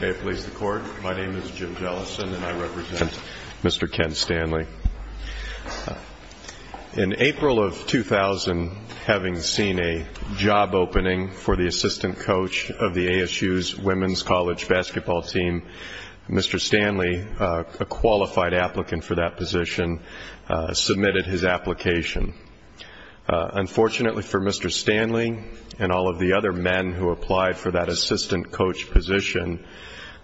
May it please the Court, my name is Jim Jellison and I represent Mr. Ken Stanley. In April of 2000, having seen a job opening for the assistant coach of the ASU's women's college basketball team, Mr. Stanley, a qualified applicant for that position, submitted his application. Unfortunately for Mr. Stanley and all of the other men who applied for that assistant coach position,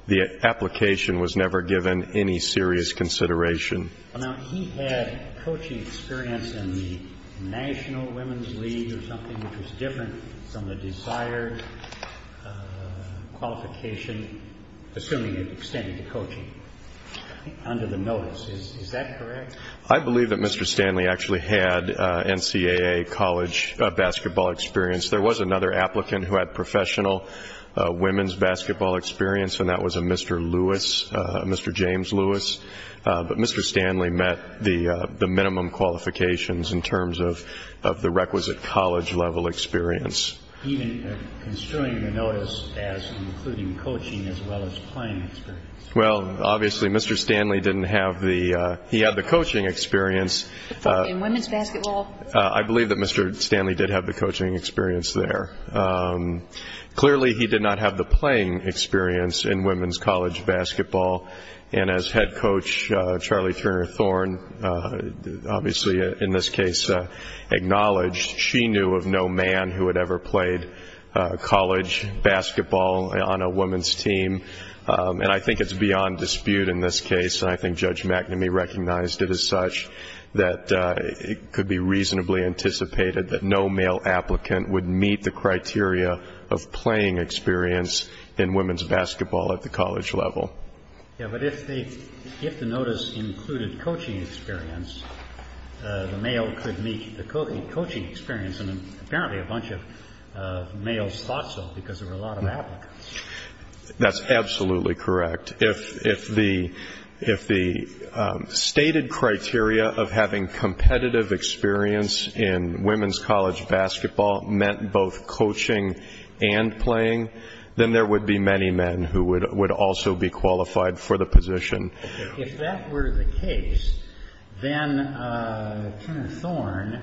the application was never given any serious consideration. Now he had coaching experience in the National Women's League or something, which was different from the desired qualification, assuming it extended to coaching, under the notice. Is that correct? I believe that Mr. Stanley actually had NCAA college basketball experience. There was another applicant who had professional women's basketball experience, and that was a Mr. Lewis, Mr. James Lewis. But Mr. Stanley met the minimum qualifications in terms of the requisite college-level experience. Even considering the notice as including coaching as well as playing experience? Well, obviously Mr. Stanley had the coaching experience. In women's basketball? I believe that Mr. Stanley did have the coaching experience there. Clearly he did not have the playing experience in women's college basketball, and as head coach Charlie Turner Thorne obviously in this case acknowledged, she knew of no man who had ever played college basketball on a women's team. And I think it's beyond dispute in this case, and I think Judge McNamee recognized it as such, that it could be reasonably anticipated that no male applicant would meet the criteria of playing experience in women's basketball at the college level. Yeah, but if the notice included coaching experience, the male could meet the coaching experience, and apparently a bunch of males thought so because there were a lot of applicants. That's absolutely correct. If the stated criteria of having competitive experience in women's college basketball meant both coaching and playing, then there would be many men who would also be qualified for the position. If that were the case, then Turner Thorne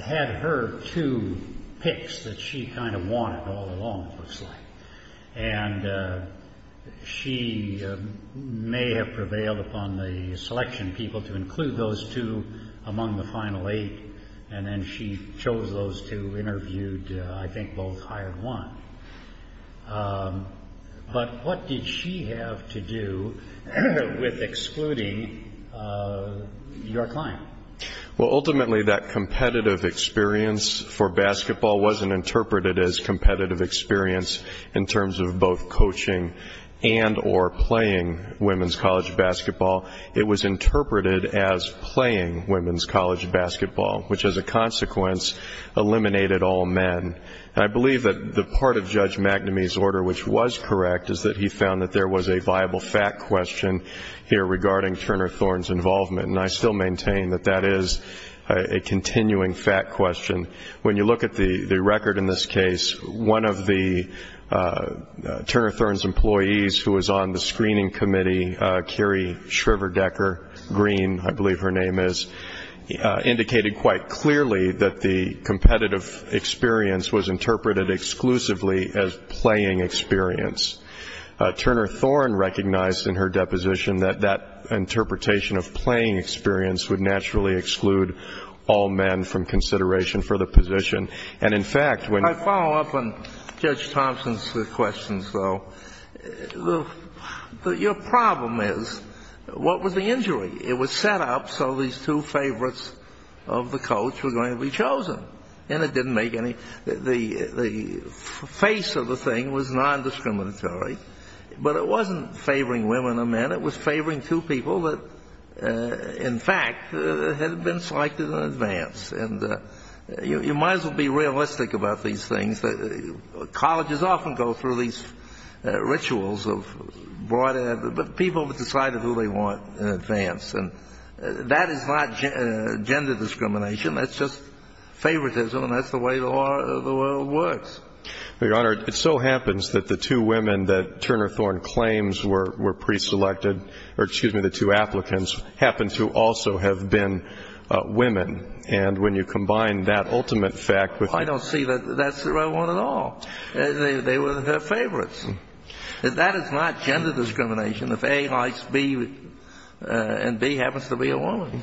had her two picks that she kind of wanted all along, it looks like. And she may have prevailed upon the selection people to include those two among the final eight, and then she chose those two, interviewed, I think both hired one. But what did she have to do with excluding your client? Well, ultimately that competitive experience for basketball wasn't interpreted as competitive experience in terms of both coaching and or playing women's college basketball. It was interpreted as playing women's college basketball, which as a consequence eliminated all men. And I believe that the part of Judge McNamee's order which was correct is that he found that there was a viable fact question here regarding Turner Thorne's involvement, and I still maintain that that is a continuing fact question. When you look at the record in this case, one of the Turner Thorne's employees who was on the screening committee, Carrie Shriver-Decker Green, I believe her name is, indicated quite clearly that the competitive experience was interpreted exclusively as playing experience. Turner Thorne recognized in her deposition that that interpretation of playing experience would naturally exclude all men from consideration for the position. I follow up on Judge Thompson's questions, though. Your problem is what was the injury? It was set up so these two favorites of the coach were going to be chosen. And it didn't make any the face of the thing was non-discriminatory. But it wasn't favoring women or men. It was favoring two people that in fact had been selected in advance. And you might as well be realistic about these things. Colleges often go through these rituals of people have decided who they want in advance. And that is not gender discrimination. That's just favoritism, and that's the way the world works. Your Honor, it so happens that the two women that Turner Thorne claims were preselected, or excuse me, the two applicants, happen to also have been women. And when you combine that ultimate fact with the other. I don't see that that's the right one at all. They were her favorites. That is not gender discrimination if A likes B and B happens to be a woman.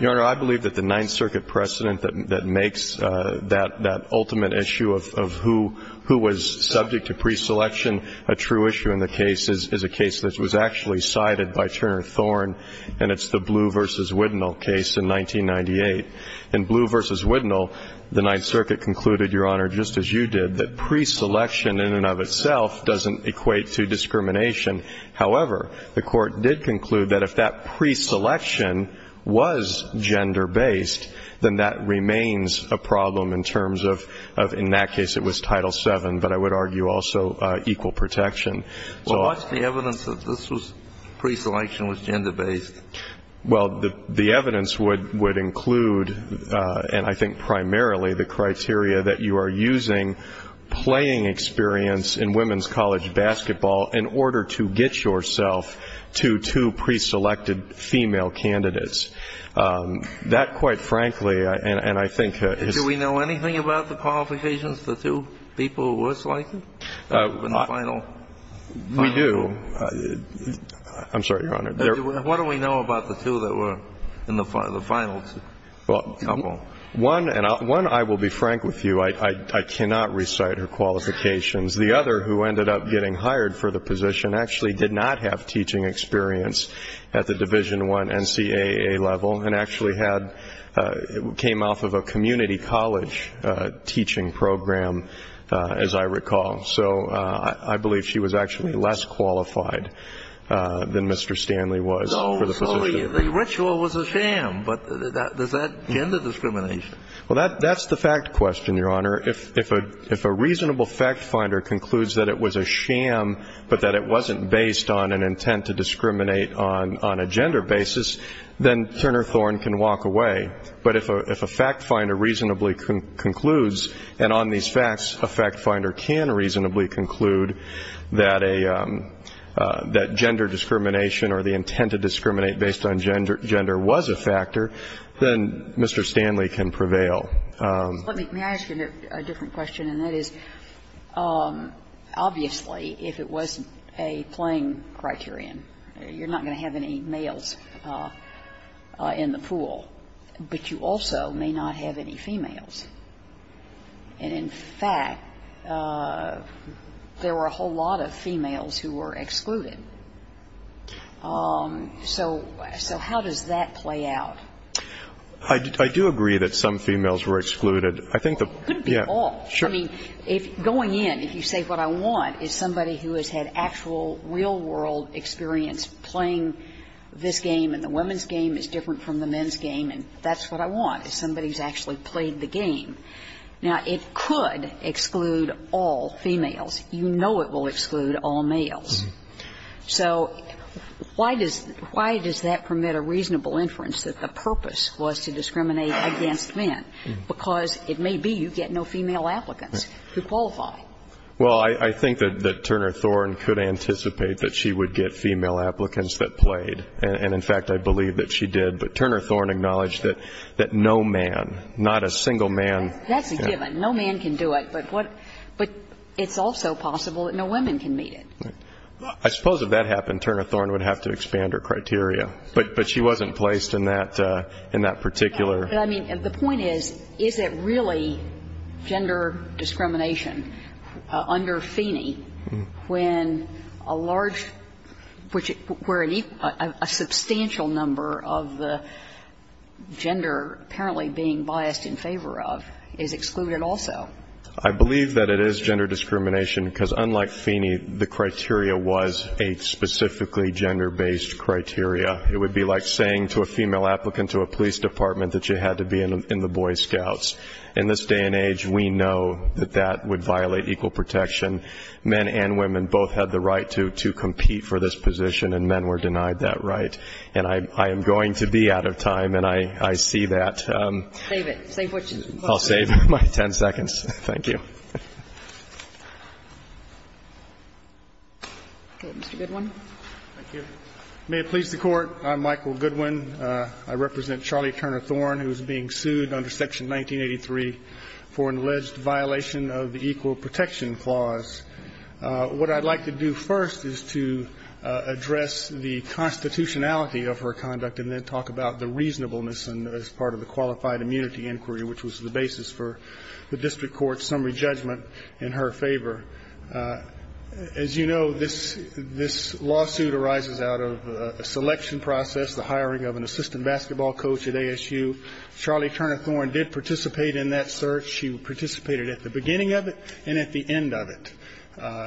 Your Honor, I believe that the Ninth Circuit precedent that makes that ultimate issue of who was subject to preselection a true issue in the case is a case that was actually cited by Turner Thorne, and it's the Blue v. Widnall case in 1998. In Blue v. Widnall, the Ninth Circuit concluded, Your Honor, just as you did, that preselection in and of itself doesn't equate to discrimination. However, the Court did conclude that if that preselection was gender-based, then that remains a problem in terms of in that case it was Title VII, but I would argue also equal protection. So what's the evidence that this preselection was gender-based? Well, the evidence would include, and I think primarily, the criteria that you are using playing experience in women's college basketball in order to get yourself to two preselected female candidates. That, quite frankly, and I think. Do we know anything about the qualifications, the two people who were selected in the final? We do. I'm sorry, Your Honor. What do we know about the two that were in the finals? Well, one, and I will be frank with you, I cannot recite her qualifications. The other, who ended up getting hired for the position, actually did not have teaching experience at the Division I NCAA level and actually came off of a community college teaching program, as I recall. So I believe she was actually less qualified than Mr. Stanley was for the position. No, so the ritual was a sham, but does that gender discrimination? Well, that's the fact question, Your Honor. If a reasonable fact finder concludes that it was a sham, but that it wasn't based on an intent to discriminate on a gender basis, then Turner Thorne can walk away. But if a fact finder reasonably concludes, and on these facts, a fact finder can reasonably conclude that a gender discrimination or the intent to discriminate based on gender was a factor, then Mr. Stanley can prevail. May I ask you a different question, and that is, obviously, if it wasn't a playing criterion, you're not going to have any males in the pool, but you also may not have any females. And, in fact, there were a whole lot of females who were excluded. So how does that play out? I do agree that some females were excluded. It couldn't be all. Sure. I mean, going in, if you say what I want is somebody who has had actual real-world experience playing this game and the women's game is different from the men's game, and that's what I want, is somebody who's actually played the game. Now, it could exclude all females. You know it will exclude all males. So why does that permit a reasonable inference that the purpose was to discriminate against men? Because it may be you get no female applicants to qualify. Well, I think that Turner Thorne could anticipate that she would get female applicants that played. And, in fact, I believe that she did. But Turner Thorne acknowledged that no man, not a single man. That's a given. No man can do it. But it's also possible that no women can meet it. I suppose if that happened, Turner Thorne would have to expand her criteria. But she wasn't placed in that particular. But, I mean, the point is, is it really gender discrimination under Feeney when a large number of the gender apparently being biased in favor of is excluded also? I believe that it is gender discrimination, because unlike Feeney, the criteria was a specifically gender-based criteria. It would be like saying to a female applicant to a police department that you had to be in the Boy Scouts. In this day and age, we know that that would violate equal protection. Men and women both had the right to compete for this position, and men were denied that right. And I am going to be out of time, and I see that. Save it. Save what you have. I'll save my ten seconds. Thank you. Okay. Mr. Goodwin. Thank you. May it please the Court, I'm Michael Goodwin. I represent Charlie Turner Thorne, who is being sued under Section 1983 for an alleged violation of the Equal Protection Clause. What I'd like to do first is to address the constitutionality of her conduct and then talk about the reasonableness as part of the qualified immunity inquiry, which was the basis for the district court's summary judgment in her favor. As you know, this lawsuit arises out of a selection process, the hiring of an assistant basketball coach at ASU. Charlie Turner Thorne did participate in that search. She participated at the beginning of it and at the end of it.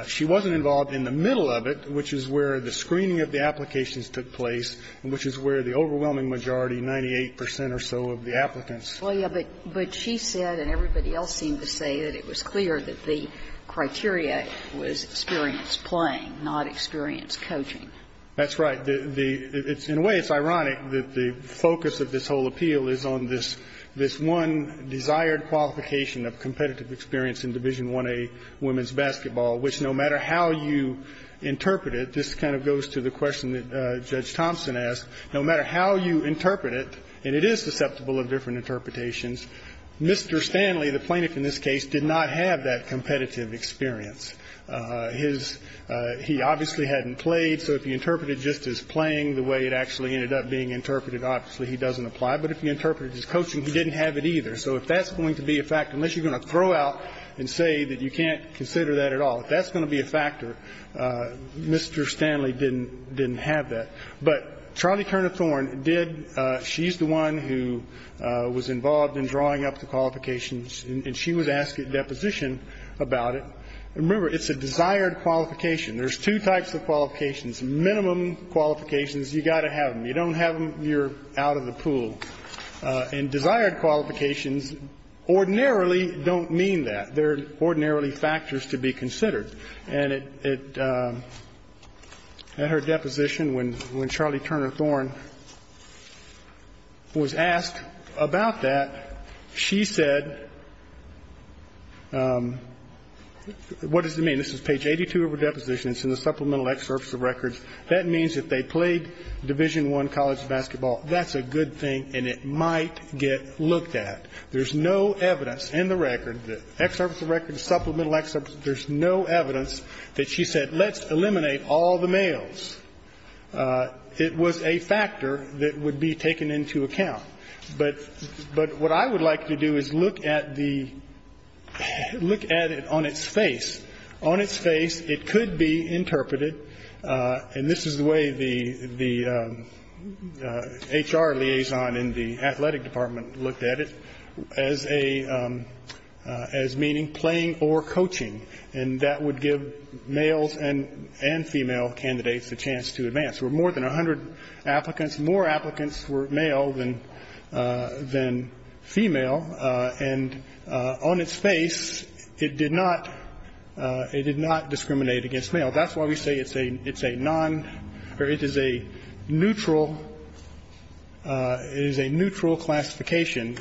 She wasn't involved in the middle of it, which is where the screening of the applications took place and which is where the overwhelming majority, 98 percent or so, of the applicants. Well, yes, but she said, and everybody else seemed to say, that it was clear that the criteria was experience playing, not experience coaching. That's right. The – in a way, it's ironic that the focus of this whole appeal is on this one desired qualification of competitive experience in Division I-A women's basketball, which no matter how you interpret it, this kind of goes to the question that Judge Thompson asked, no matter how you interpret it, and it is susceptible of different interpretations, Mr. Stanley, the plaintiff in this case, did not have that competitive experience. His – he obviously hadn't played, so if you interpret it just as playing the way it actually ended up being interpreted, obviously he doesn't apply. But if you interpret it as coaching, he didn't have it either. So if that's going to be a factor, unless you're going to throw out and say that you can't consider that at all, if that's going to be a factor, Mr. Stanley didn't have that. But Charlie Turner Thorne did – she's the one who was involved in drawing up the qualifications, and she would ask at deposition about it. And remember, it's a desired qualification. There's two types of qualifications. Minimum qualifications, you've got to have them. You don't have them, you're out of the pool. And desired qualifications ordinarily don't mean that. They're ordinarily factors to be considered. And at her deposition, when Charlie Turner Thorne was asked about that, she said – what does it mean? This is page 82 of her deposition. It's in the supplemental excerpts of records. That means that they played Division I college basketball. That's a good thing, and it might get looked at. There's no evidence in the record, the excerpts of records, supplemental excerpts, there's no evidence that she said let's eliminate all the males. It was a factor that would be taken into account. But what I would like to do is look at the – look at it on its face. On its face, it could be interpreted, and this is the way the HR liaison in the athletic department looked at it, as a – as meaning playing or coaching. And that would give males and female candidates a chance to advance. There were more than 100 applicants. More applicants were male than female. And on its face, it did not – it did not discriminate against male. That's why we say it's a non – or it is a neutral – it is a neutral classification.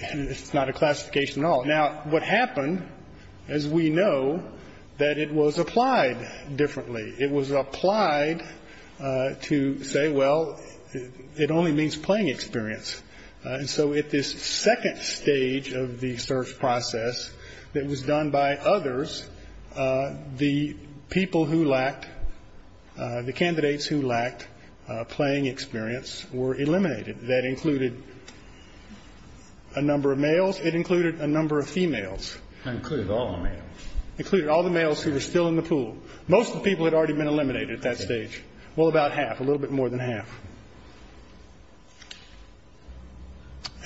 It's not a classification at all. Now, what happened, as we know, that it was applied differently. It was applied to say, well, it only means playing experience. And so at this second stage of the search process that was done by others, the people who lacked – the candidates who lacked playing experience were eliminated. That included a number of males. It included a number of females. It included all the males. It included all the males who were still in the pool. Most of the people had already been eliminated at that stage. Well, about half, a little bit more than half.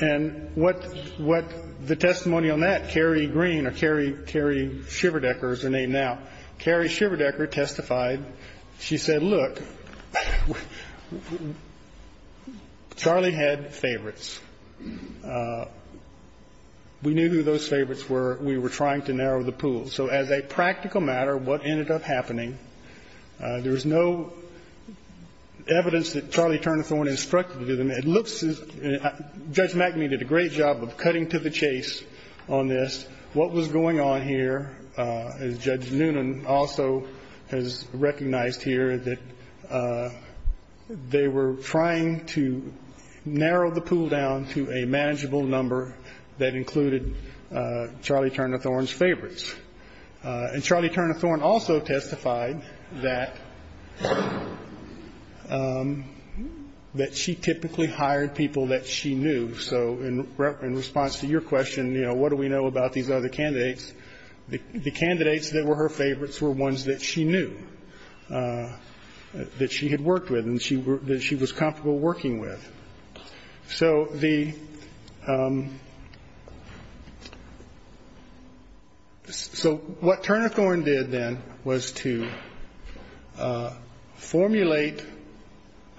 And what – what the testimony on that, Carrie Green or Carrie – Carrie Shiverdecker, is her name now. Carrie Shiverdecker testified. She said, look, Charlie had favorites. We knew who those favorites were. We were trying to narrow the pool. So as a practical matter, what ended up happening, there was no evidence that Charlie Turnathorn instructed them. It looks as if – Judge McNamee did a great job of cutting to the chase on this. What was going on here, as Judge Noonan also has recognized here, that they were trying to narrow the pool down to a manageable number that included Charlie Turnathorn's favorites. And Charlie Turnathorn also testified that she typically hired people that she knew. So in response to your question, you know, what do we know about these other candidates, the candidates that were her favorites were ones that she knew, that she had worked with, and that she was comfortable working with. So the – so what Turnathorn did then was to formulate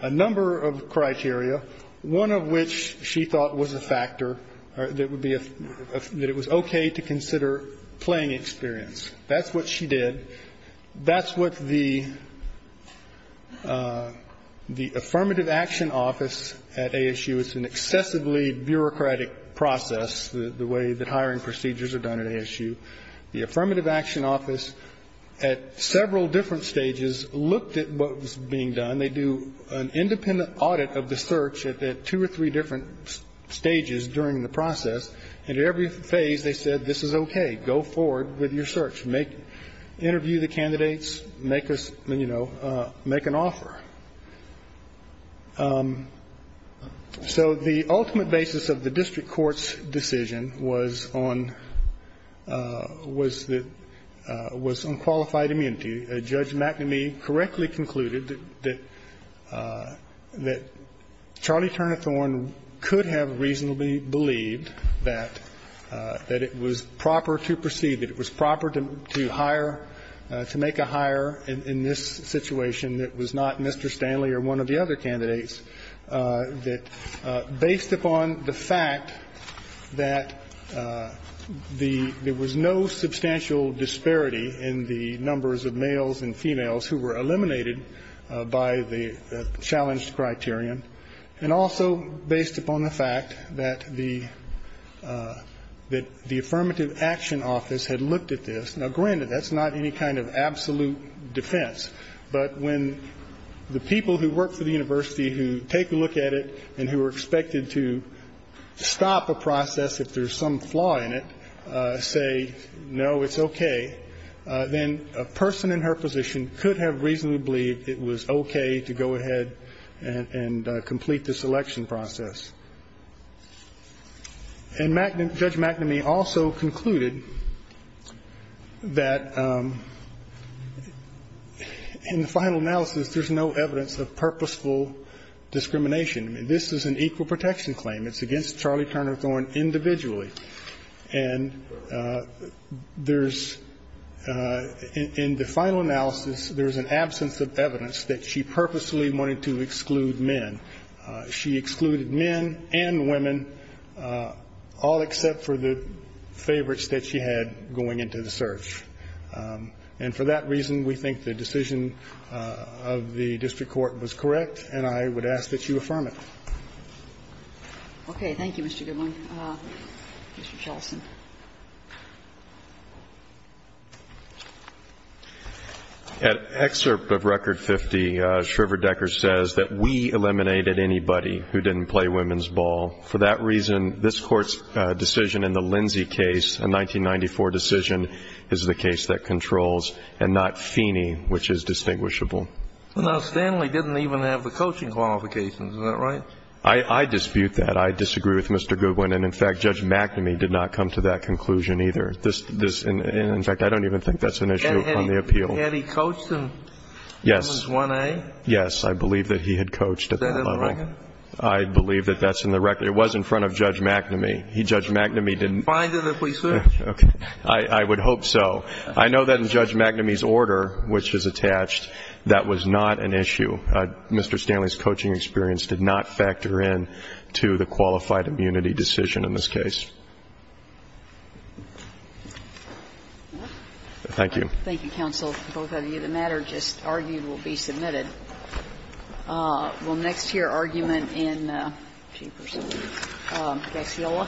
a number of criteria, one of which she thought was a factor that would be – that it was okay to consider playing experience. That's what she did. That's what the Affirmative Action Office at ASU – it's an excessively bureaucratic process, the way that hiring procedures are done at ASU. The Affirmative Action Office at several different stages looked at what was being done. And they do an independent audit of the search at two or three different stages during the process. And at every phase, they said, this is okay. Go forward with your search. Make – interview the candidates. Make a – you know, make an offer. So the ultimate basis of the district court's decision was on – was that – was on qualified immunity. Judge McNamee correctly concluded that Charlie Turnathorn could have reasonably believed that it was proper to proceed, that it was proper to hire – to make a hire in this situation that was not Mr. Stanley or one of the other candidates, that based upon the fact that the – there was no substantial disparity in the numbers of males and females who were eliminated by the challenged criterion, and also based upon the fact that the Affirmative Action Office had looked at this. Now, granted, that's not any kind of absolute defense. But when the people who work for the university who take a look at it and who are expected to stop a process if there's some flaw in it say, no, it's okay, then a person in her position could have reasonably believed it was okay to go ahead and complete the selection process. And Judge McNamee also concluded that in the final analysis, there's no evidence of purposeful discrimination. This is an equal protection claim. It's against Charlie Turnathorn individually. And there's – in the final analysis, there's an absence of evidence that she purposely wanted to exclude men. She excluded men and women, all except for the favorites that she had going into the search. And for that reason, we think the decision of the district court was correct, and I would ask that you affirm it. Okay. Thank you, Mr. Goodwin. Mr. Charlson. An excerpt of Record 50, Shriver-Decker says that we eliminated anybody who didn't play women's ball. For that reason, this Court's decision in the Lindsay case, a 1994 decision, is the case that controls and not Feeney, which is distinguishable. Now, Stanley didn't even have the coaching qualifications. Is that right? I dispute that. I disagree with Mr. Goodwin. And, in fact, Judge McNamee did not come to that conclusion either. In fact, I don't even think that's an issue on the appeal. Had he coached him in his 1A? Yes, I believe that he had coached at that level. Is that in the record? I believe that that's in the record. It was in front of Judge McNamee. Judge McNamee didn't – You can find it if we search. Okay. I would hope so. I know that in Judge McNamee's order, which is attached, that was not an issue. Mr. Stanley's coaching experience did not factor in to the qualified immunity decision in this case. Thank you. Thank you, counsel. Both of you. The matter just argued will be submitted. We'll next hear argument in – Gacciola.